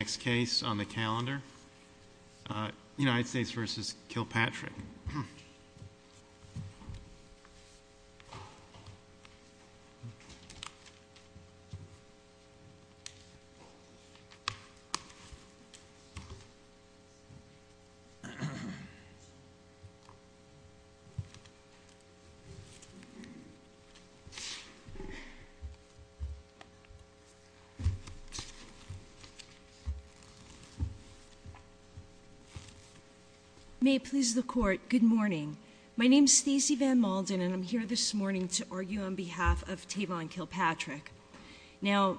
Next case on the calendar, United States v. Kilpatrick. May it please the court, good morning. My name is Stacey Van Malden and I'm here this morning to argue on behalf of Tavon Kilpatrick. Now,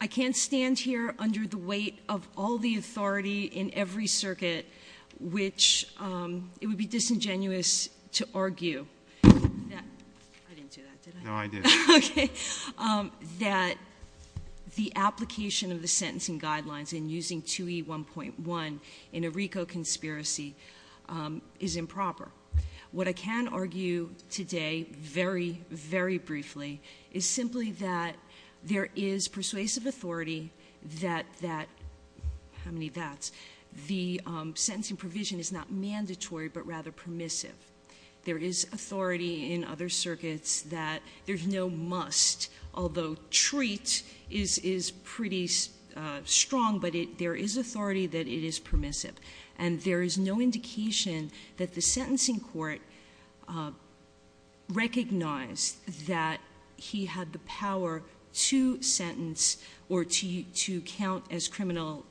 I can't stand here under the weight of all the authority in every circuit, which it would be disingenuous to argue. I didn't do that, did I? No, I did. Okay, that the application of the sentencing guidelines in using 2E1.1 in a RICO conspiracy is improper. What I can argue today, very, very briefly, is simply that there is persuasive authority that, how many that's, the sentencing provision is not mandatory but rather permissive. There is authority in other circuits that there's no must, although treat is pretty strong, but there is authority that it is permissive. And there is no indication that the sentencing court recognized that he had the power to sentence or to count as criminal,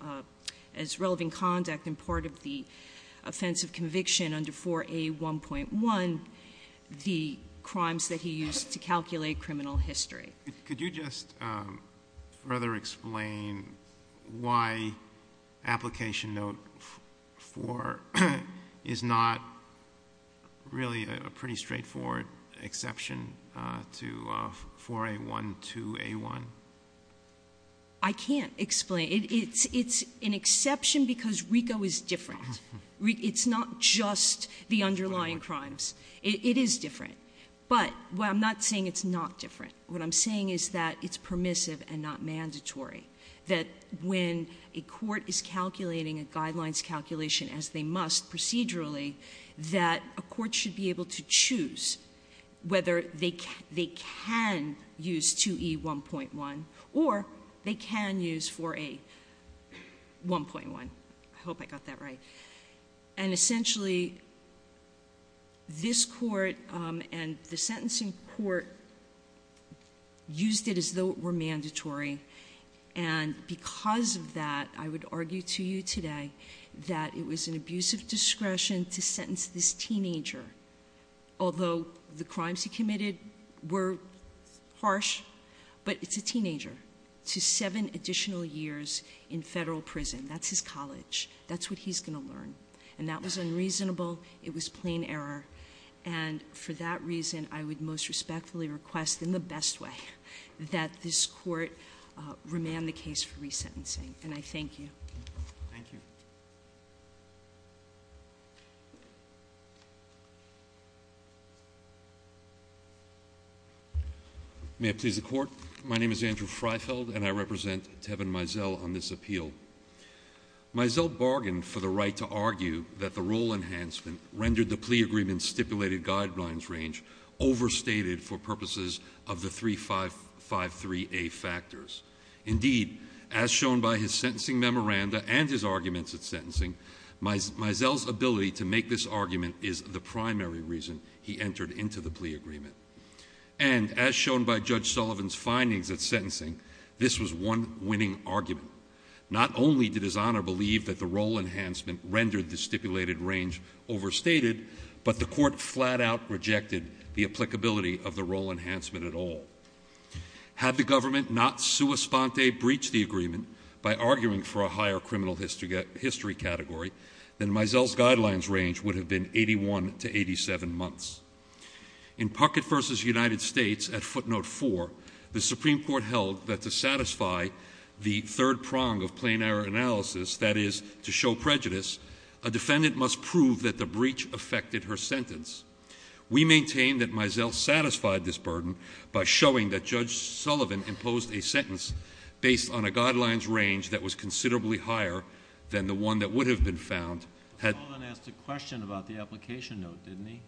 as relevant conduct and part of the offense of conviction under 4A1.1, the crimes that he used to calculate criminal history. Could you just rather explain why application note 4 is not really a pretty straightforward exception to 4A1 to A1? I can't explain. It's an exception because RICO is different. It's not just the underlying crimes. It is different. But I'm not saying it's not different. What I'm saying is that it's permissive and not mandatory, that when a court is calculating a guidelines calculation as they must procedurally, that a court should be able to choose whether they can use 2E1.1 or they can use 4A1.1. I hope I got that right. And essentially, this court and the sentencing court used it as though it were mandatory. And because of that, I would argue to you today that it was an abusive discretion to sentence this teenager, although the crimes he committed were harsh, but it's a teenager to seven additional years in federal prison. That's his college. That's what he's going to learn. And that was unreasonable. It was plain error. And for that reason, I would most respectfully request, in the best way, that this court remand the case for resentencing. And I thank you. Thank you. May it please the Court, my name is Andrew Freifeld, and I represent Tevin Mizell on this appeal. Mizell bargained for the right to argue that the rule enhancement rendered the plea agreement's stipulated guidelines range overstated for purposes of the 353A factors. Indeed, as shown by his sentencing memoranda and his arguments at sentencing, Mizell's ability to make this argument is the primary reason he entered into the plea agreement. And as shown by Judge Sullivan's findings at sentencing, this was one winning argument. Not only did His Honor believe that the rule enhancement rendered the stipulated range overstated, but the court flat out rejected the applicability of the rule enhancement at all. Had the government not sua sponte breached the agreement by arguing for a higher criminal history category, then Mizell's guidelines range would have been 81 to 87 months. In Puckett v. United States at footnote 4, the Supreme Court held that to satisfy the third prong of plain error analysis, that is, to show prejudice, a defendant must prove that the breach affected her sentence. We maintain that Mizell satisfied this burden by showing that Judge Sullivan imposed a sentence based on a guidelines range that was considerably higher than the one that would have been found. Sullivan asked a question about the application note, didn't he?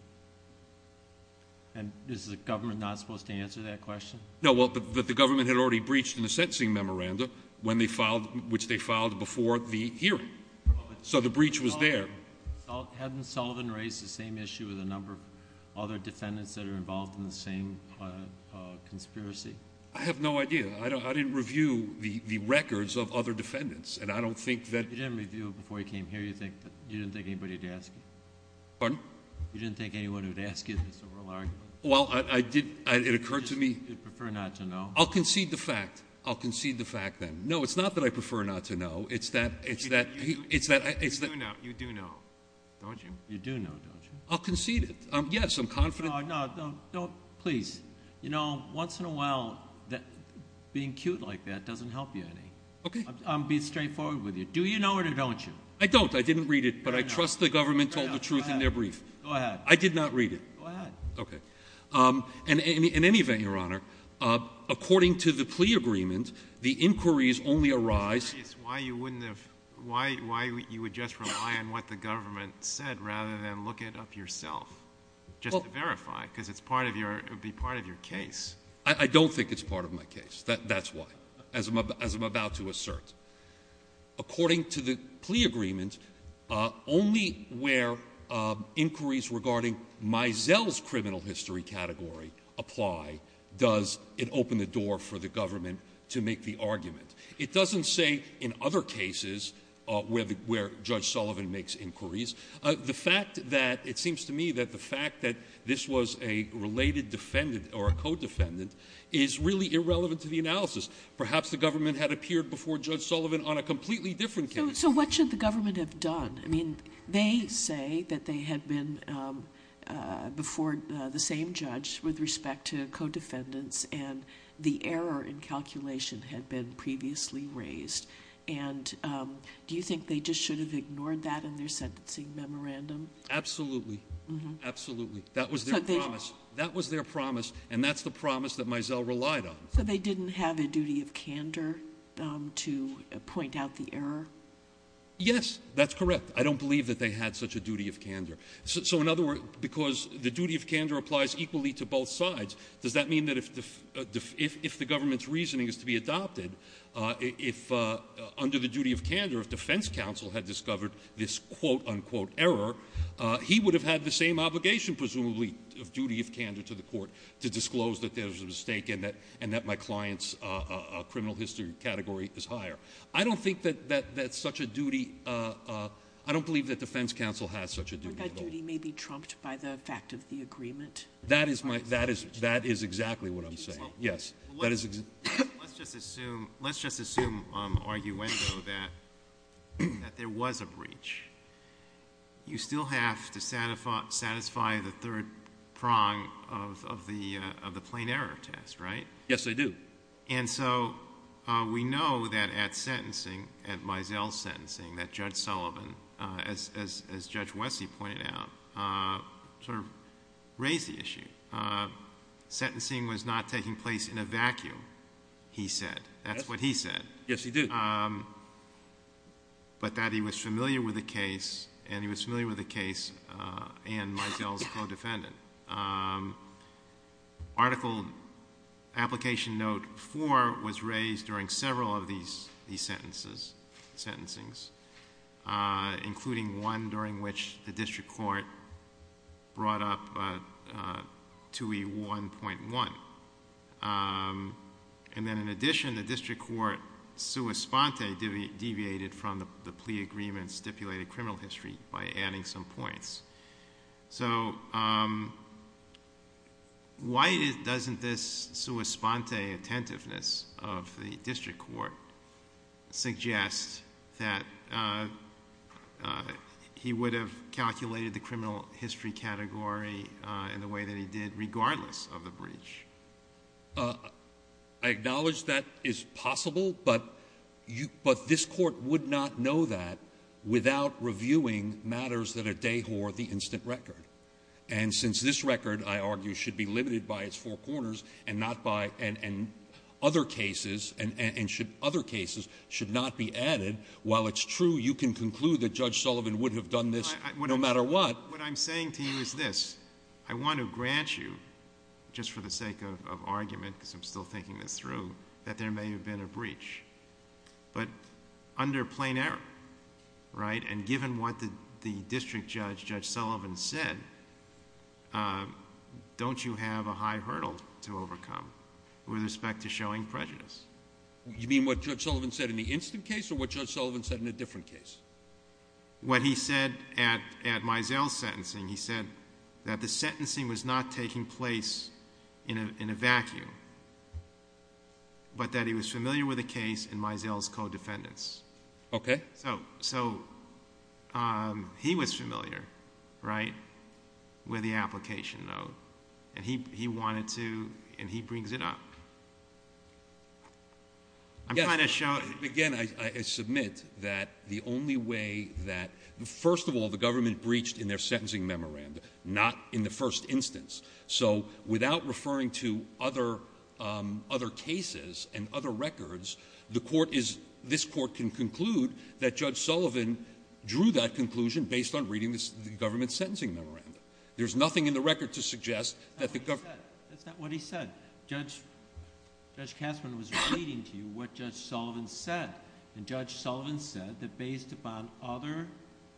And is the government not supposed to answer that question? No, but the government had already breached the sentencing memoranda, which they filed before the hearing. So the breach was there. Hadn't Sullivan raised the same issue with a number of other defendants that are involved in the same conspiracy? I have no idea. I didn't review the records of other defendants, and I don't think that. You didn't review them before you came here? You didn't think anybody would ask you? Pardon? You didn't think anyone would ask you? Well, it occurred to me. You prefer not to know. I'll concede the fact. I'll concede the fact then. No, it's not that I prefer not to know. You do know, don't you? You do know, don't you? I'll concede it. Yes, I'm confident. No, please. You know, once in a while, being cute like that doesn't help you any. Okay. I'll be straightforward with you. Do you know it or don't you? I don't. I didn't read it, but I trust the government told the truth in their brief. Go ahead. I did not read it. Go ahead. Okay. In any event, Your Honor, according to the plea agreement, the inquiries only arise why you would just rely on what the government said rather than look it up yourself, just to verify, because it would be part of your case. I don't think it's part of my case. That's why, as I'm about to assert. According to the plea agreement, only where inquiries regarding Mizell's criminal history category apply does it open the door for the government to make the argument. It doesn't say in other cases where Judge Sullivan makes inquiries. The fact that it seems to me that the fact that this was a related defendant or a co-defendant is really irrelevant to the analysis. Perhaps the government had appeared before Judge Sullivan on a completely different case. So what should the government have done? I mean, they say that they had been before the same judge with respect to co-defendants, and the error in calculation had been previously raised. And do you think they just should have ignored that in their sentencing memorandum? Absolutely. Absolutely. That was their promise. That was their promise, and that's the promise that Mizell relied on. Yes, that's correct. I don't believe that they had such a duty of candor. So, in other words, because the duty of candor applies equally to both sides, does that mean that if the government's reasoning is to be adopted, if under the duty of candor, if defense counsel had discovered this quote-unquote error, he would have had the same obligation, presumably, of duty of candor to the court to disclose that there was a mistake and that my client's criminal history category is higher. I don't think that that's such a duty. I don't believe that defense counsel has such a duty. But that duty may be trumped by the fact of the agreement. That is exactly what I'm saying. Yes. Let's just assume, arguendo, that there was a breach. You still have to satisfy the third prong of the plain error test, right? Yes, I do. And so we know that at sentencing, at Mizell's sentencing, that Judge Sullivan, as Judge Wessey pointed out, sort of raised the issue. Sentencing was not taking place in a vacuum, he said. That's what he said. Yes, he did. But that he was familiar with the case and he was familiar with the case and Mizell's co-defendant. Article Application Note 4 was raised during several of these sentences, including one during which the district court brought up 2E1.1. And then in addition, the district court, sua sponte, deviated from the plea agreement stipulated criminal history by adding some points. So why doesn't this sua sponte attentiveness of the district court suggest that he would have calculated the criminal history category in the way that he did, regardless of the breach? I acknowledge that is possible, but this court would not know that without reviewing matters that are dehore the instant record. And since this record, I argue, should be limited by its four corners and other cases should not be added, while it's true, you can conclude that Judge Sullivan would have done this no matter what. What I'm saying to you is this. I want to grant you, just for the sake of argument, because I'm still thinking this through, that there may have been a breach. But under plain error, right? And given what the district judge, Judge Sullivan, said, don't you have a high hurdle to overcome with respect to showing prejudice? You mean what Judge Sullivan said in the instant case or what Judge Sullivan said in a different case? What he said at Mizell's sentencing, he said that the sentencing was not taking place in a vacuum, but that he was familiar with the case in Mizell's co-defendants. Okay. So he was familiar, right, with the application note. And he wanted to, and he brings it up. Again, I submit that the only way that, first of all, the government breached in their sentencing memorandum, not in the first instance. So without referring to other cases and other records, this court can conclude that Judge Sullivan drew that conclusion based on reading the government's sentencing memorandum. There's nothing in the record to suggest that the government That's not what he said. Judge Cassman was reading to you what Judge Sullivan said. And Judge Sullivan said that based upon other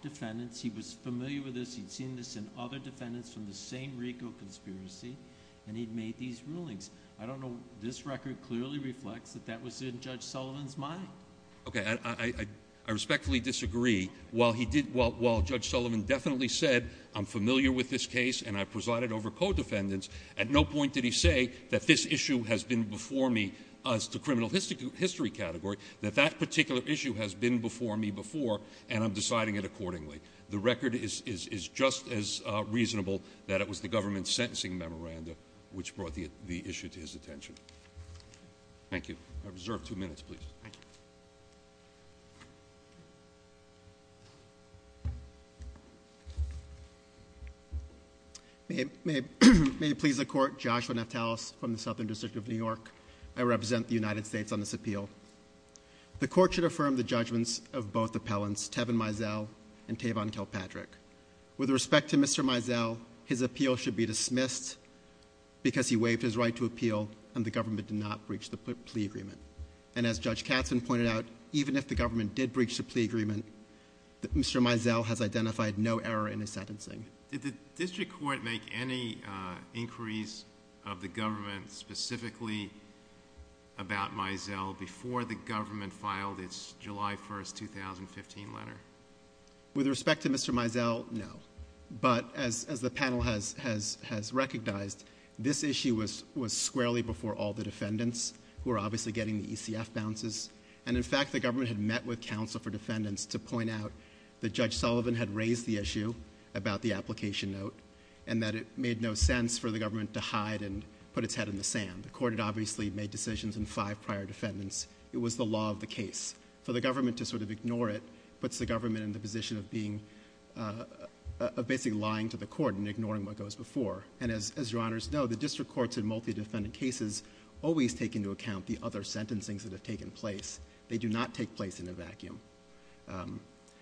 defendants, he was familiar with this, he'd seen this in other defendants from the same RICO conspiracy, and he'd made these rulings. I don't know. This record clearly reflects that that was in Judge Sullivan's mind. Okay. I respectfully disagree. While Judge Sullivan definitely said I'm familiar with this case and I presided over co-defendants, at no point did he say that this issue has been before me as to criminal history category, that that particular issue has been before me before and I'm deciding it accordingly. The record is just as reasonable that it was the government's sentencing memorandum which brought the issue to his attention. Thank you. I reserve two minutes, please. Thank you. May it please the Court, Joshua Naftalis from the Southern District of New York. I represent the United States on this appeal. The Court should affirm the judgments of both appellants, Tevin Mizell and Tavon Kilpatrick. With respect to Mr. Mizell, his appeal should be dismissed because he waived his right to appeal and the government did not breach the plea agreement. And as Judge Katzen pointed out, even if the government did breach the plea agreement, Mr. Mizell has identified no error in his sentencing. Did the district court make any inquiries of the government specifically about Mizell before the government filed its July 1, 2015 letter? With respect to Mr. Mizell, no. But as the panel has recognized, this issue was squarely before all the defendants who were obviously getting the ECF bounces. And in fact, the government had met with counsel for defendants to point out that Judge Sullivan had raised the issue about the application note and that it made no sense for the government to hide and put its head in the sand. The court had obviously made decisions in five prior defendants. It was the law of the case. For the government to sort of ignore it puts the government in the position of being... of basically lying to the court and ignoring what goes before. And as Your Honors know, the district courts in multi-defendant cases always take into account the other sentencings that have taken place. They do not take place in a vacuum.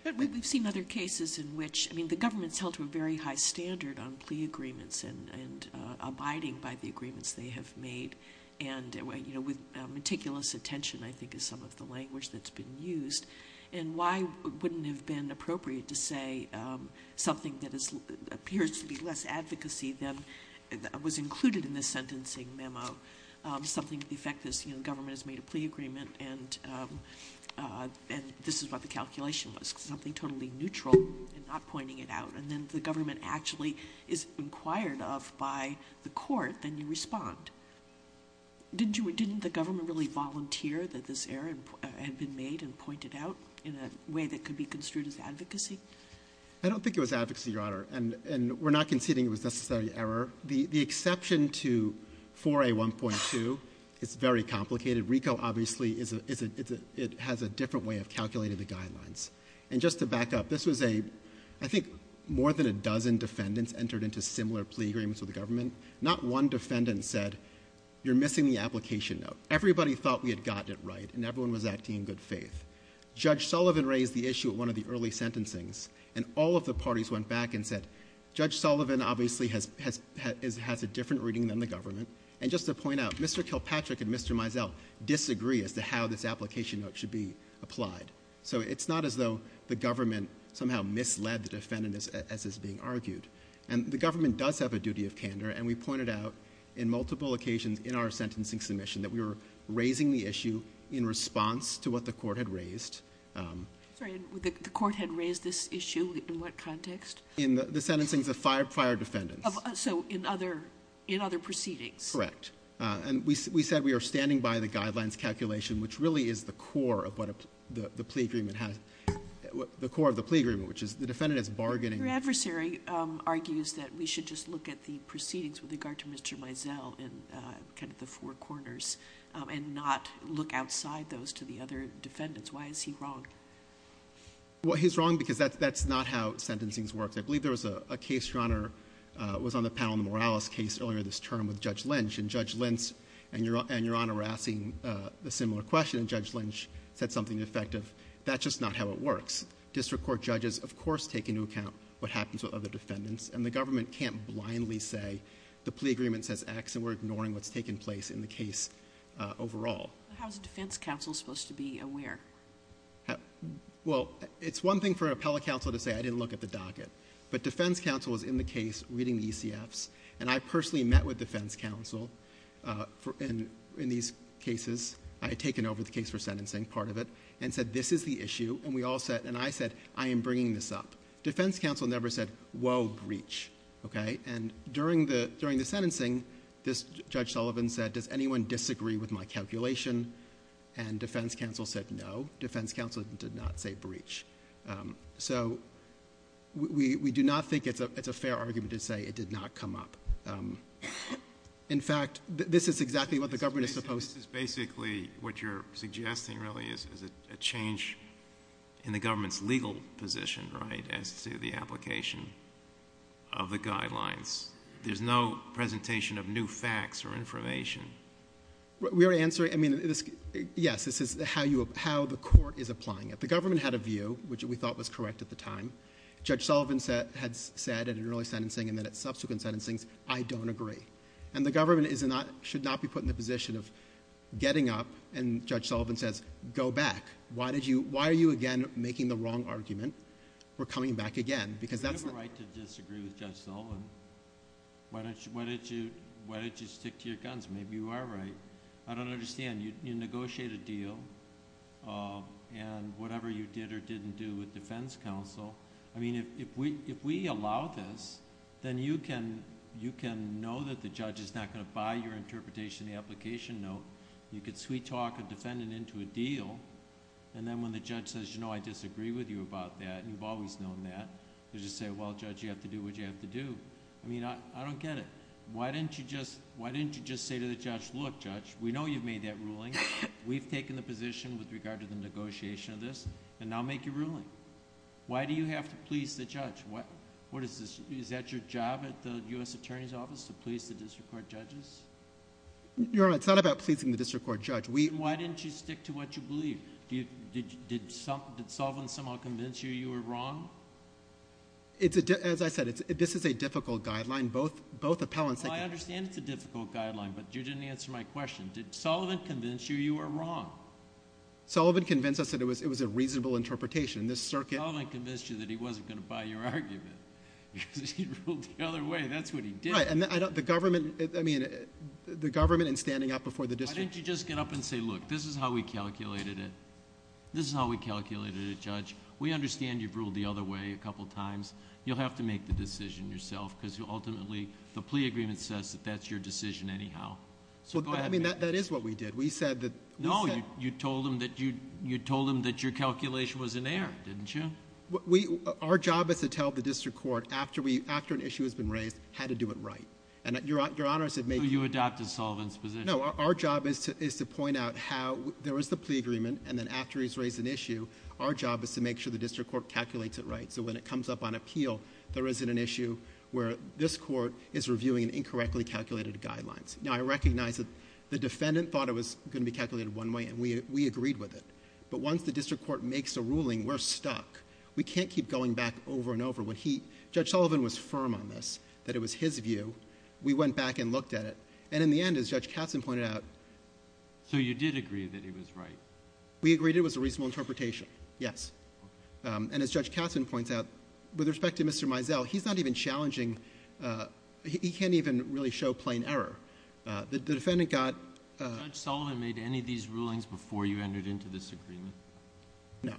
But we've seen other cases in which... I mean, the government's held to a very high standard on plea agreements and abiding by the agreements they have made. And, you know, with meticulous attention, I think, is some of the language that's been used. And why wouldn't it have been appropriate to say something that appears to be less advocacy than was included in the sentencing memo? Something to the effect that, you know, the government has made a plea agreement and this is what the calculation was. Something totally neutral and not pointing it out. And then the government actually is inquired of by the court and you respond. Didn't the government really volunteer that this error had been made and pointed out in a way that could be construed as advocacy? I don't think it was advocacy, Your Honor. And we're not conceding it was necessarily error. The exception to 4A1.2 is very complicated. RICO, obviously, it has a different way of calculating the guidelines. And just to back up, this was a, I think, more than a dozen defendants entered into similar plea agreements with the government. Not one defendant said, you're missing the application note. Everybody thought we had gotten it right and everyone was acting in good faith. Judge Sullivan raised the issue at one of the early sentencings and all of the parties went back and said, Judge Sullivan obviously has a different reading than the government. And just to point out, Mr. Kilpatrick and Mr. Mizell disagree as to how this application note should be applied. So it's not as though the government somehow misled the defendant as is being argued. And the government does have a duty of candor and we pointed out in multiple occasions in our sentencing submission that we were raising the issue in response to what the court had raised. Sorry, the court had raised this issue in what context? In the sentencing of the fired defendants. So in other proceedings. Correct. And we said we are standing by the guidelines calculation, which really is the core of what the plea agreement has. The core of the plea agreement, which is the defendant is bargaining. Your adversary argues that we should just look at the proceedings with regard to Mr. Mizell in kind of the four corners and not look outside those to the other defendants. Why is he wrong? Well, he's wrong because that's not how sentencing works. I believe there was a case, Your Honor, was on the panel in the Morales case earlier this term with Judge Lynch. And Judge Lynch and Your Honor were asking a similar question. And Judge Lynch said something effective. That's just not how it works. District Court judges, of course, take into account what happens with other defendants. And the government can't blindly say the plea agreement says X and we're ignoring what's taking place in the case overall. How is the defense counsel supposed to be aware? Well, it's one thing for an appellate counsel to say, I didn't look at the docket. But defense counsel is in the case reading the ECFs. And I personally met with defense counsel in these cases. I had taken over the case for sentencing, part of it, and said, this is the issue. And I said, I am bringing this up. Defense counsel never said, whoa, breach. And during the sentencing, Judge Sullivan said, does anyone disagree with my calculation? And defense counsel said, no. Defense counsel did not say breach. So we do not think it's a fair argument to say it did not come up. In fact, this is exactly what the government is supposed to do. This is basically what you're suggesting, really, is a change in the government's legal position, right, as to the application of the guidelines. There's no presentation of new facts or information. We are answering... Yes, this is how the court is applying it. The government had a view, which we thought was correct at the time. Judge Sullivan had said at an early sentencing and then at subsequent sentencing, I don't agree. And the government should not be put in the position of getting up, and Judge Sullivan says, go back. Why are you again making the wrong argument? We're coming back again, because that's... Do you have a right to disagree with Judge Sullivan? Why don't you stick to your guns? Maybe you are right. I don't understand. You negotiate a deal, and whatever you did or didn't do with defense counsel... I mean, if we allow this, then you can know that the judge is not going to buy your interpretation of the application note. You could sweet-talk a defendant into a deal, and then when the judge says, you know, I disagree with you about that, and you've always known that, you just say, well, Judge, you have to do what you have to do. I mean, I don't get it. Why didn't you just say to the judge, look, Judge, we know you've made that ruling. We've taken the position with regard to the negotiation of this, and now make your ruling. Why do you have to please the judge? What is this? Is that your job at the U.S. Attorney's Office to please the district court judges? Your Honor, it's not about pleasing the district court judge. Why didn't you stick to what you believe? Did Sullivan somehow convince you you were wrong? As I said, this is a difficult guideline. Both appellants... Well, I understand it's a difficult guideline, but you didn't answer my question. Did Sullivan convince you you were wrong? Sullivan convinced us that it was a reasonable interpretation. This circuit... Sullivan convinced you that he wasn't going to buy your argument because he ruled the other way. That's what he did. Right, and the government, I mean, the government in standing up before the district... Why didn't you just get up and say, look, this is how we calculated it. This is how we calculated it, Judge. We understand you've ruled the other way a couple times. You'll have to make the decision yourself because ultimately the plea agreement says that that's your decision anyhow. I mean, that is what we did. We said that... No, you told him that your calculation was in error. Didn't you? Our job is to tell the district court after an issue has been raised how to do it right. Your Honor, I said... So you adopted Sullivan's position. No, our job is to point out how there was the plea agreement and then after he's raised an issue, our job is to make sure the district court calculates it right so when it comes up on appeal, there isn't an issue where this court is reviewing incorrectly calculated guidelines. Now, I recognize that the defendant thought it was going to be calculated one way and we agreed with it, but once the district court makes a ruling, we're stuck. We can't keep going back over and over. Judge Sullivan was firm on this, that it was his view. We went back and looked at it and in the end, as Judge Katzen pointed out... So you did agree that it was right? We agreed it was a reasonable interpretation, yes. And as Judge Katzen points out, with respect to Mr. Mizell, he's not even challenging... He can't even really show plain error. The defendant got... Judge Sullivan made any of these rulings before you entered into this agreement? No.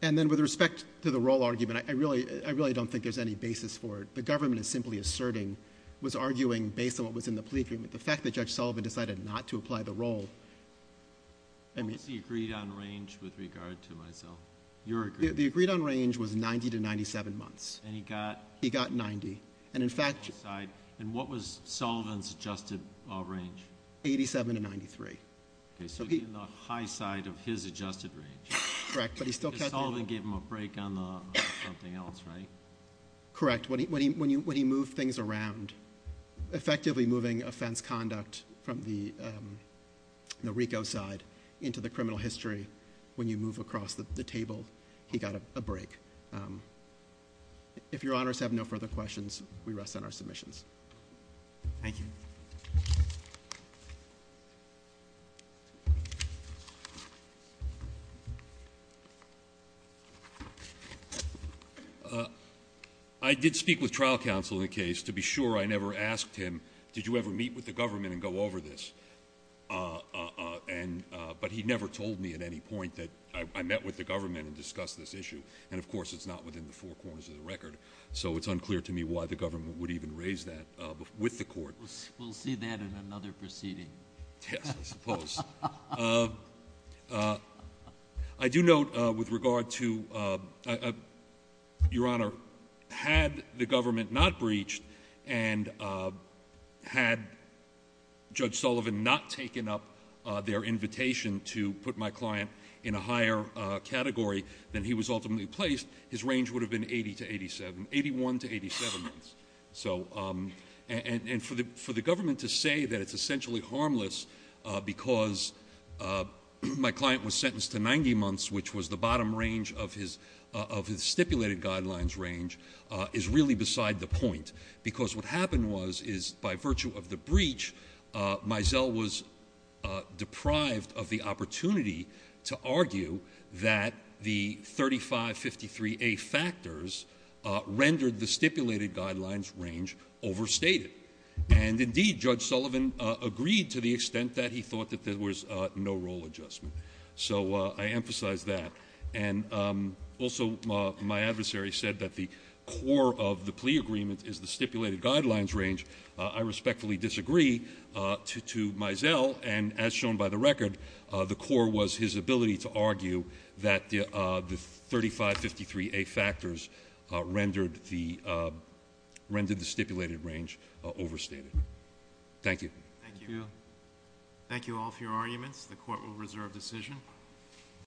And then with respect to the role argument, I really don't think there's any basis for it. The government is simply asserting, was arguing based on what was in the plea agreement, the fact that Judge Sullivan decided not to apply the role... Was he agreed on range with regard to Mizell? The agreed on range was 90 to 97 months. And he got... He got 90. And in fact... And what was Sullivan's adjusted range? 87 to 93. Okay, so he's on the high side of his adjusted range. Correct, but he still... Because Sullivan gave him a break on something else, right? Correct. When he moved things around, effectively moving offense conduct from the RICO side into the criminal history, when you move across the table, he got a break. If Your Honors have no further questions, we rest on our submissions. Thank you. I did speak with trial counsel in the case. To be sure, I never asked him, did you ever meet with the government and go over this? But he never told me at any point that I met with the government and discussed this issue. And of course, it's not within the four corners of the record. So it's unclear to me why the government would even raise that with the court. We'll see that in another proceeding. Yes, I suppose. I do note with regard to... Your Honor, had the government not breached and had Judge Sullivan not taken up their invitation to put my client in a higher category than he was ultimately placed, his range would have been 80 to 87, 81 to 87 months. And for the government to say that it's essentially harmless because my client was sentenced to 90 months, which was the bottom range of his stipulated guidelines range, is really beside the point. Because what happened was, is by virtue of the breach, Mizell was deprived of the opportunity to argue that the 3553A factors rendered the stipulated guidelines range overstated. And indeed, Judge Sullivan agreed to the extent that he thought that there was no role adjustment. So I emphasize that. And also, my adversary said that the core of the plea agreement is the stipulated guidelines range. I respectfully disagree to Mizell. And as shown by the record, the core was his ability to argue that the 3553A factors rendered the stipulated range overstated. Thank you. Thank you. Thank you all for your arguments. The court will reserve decision.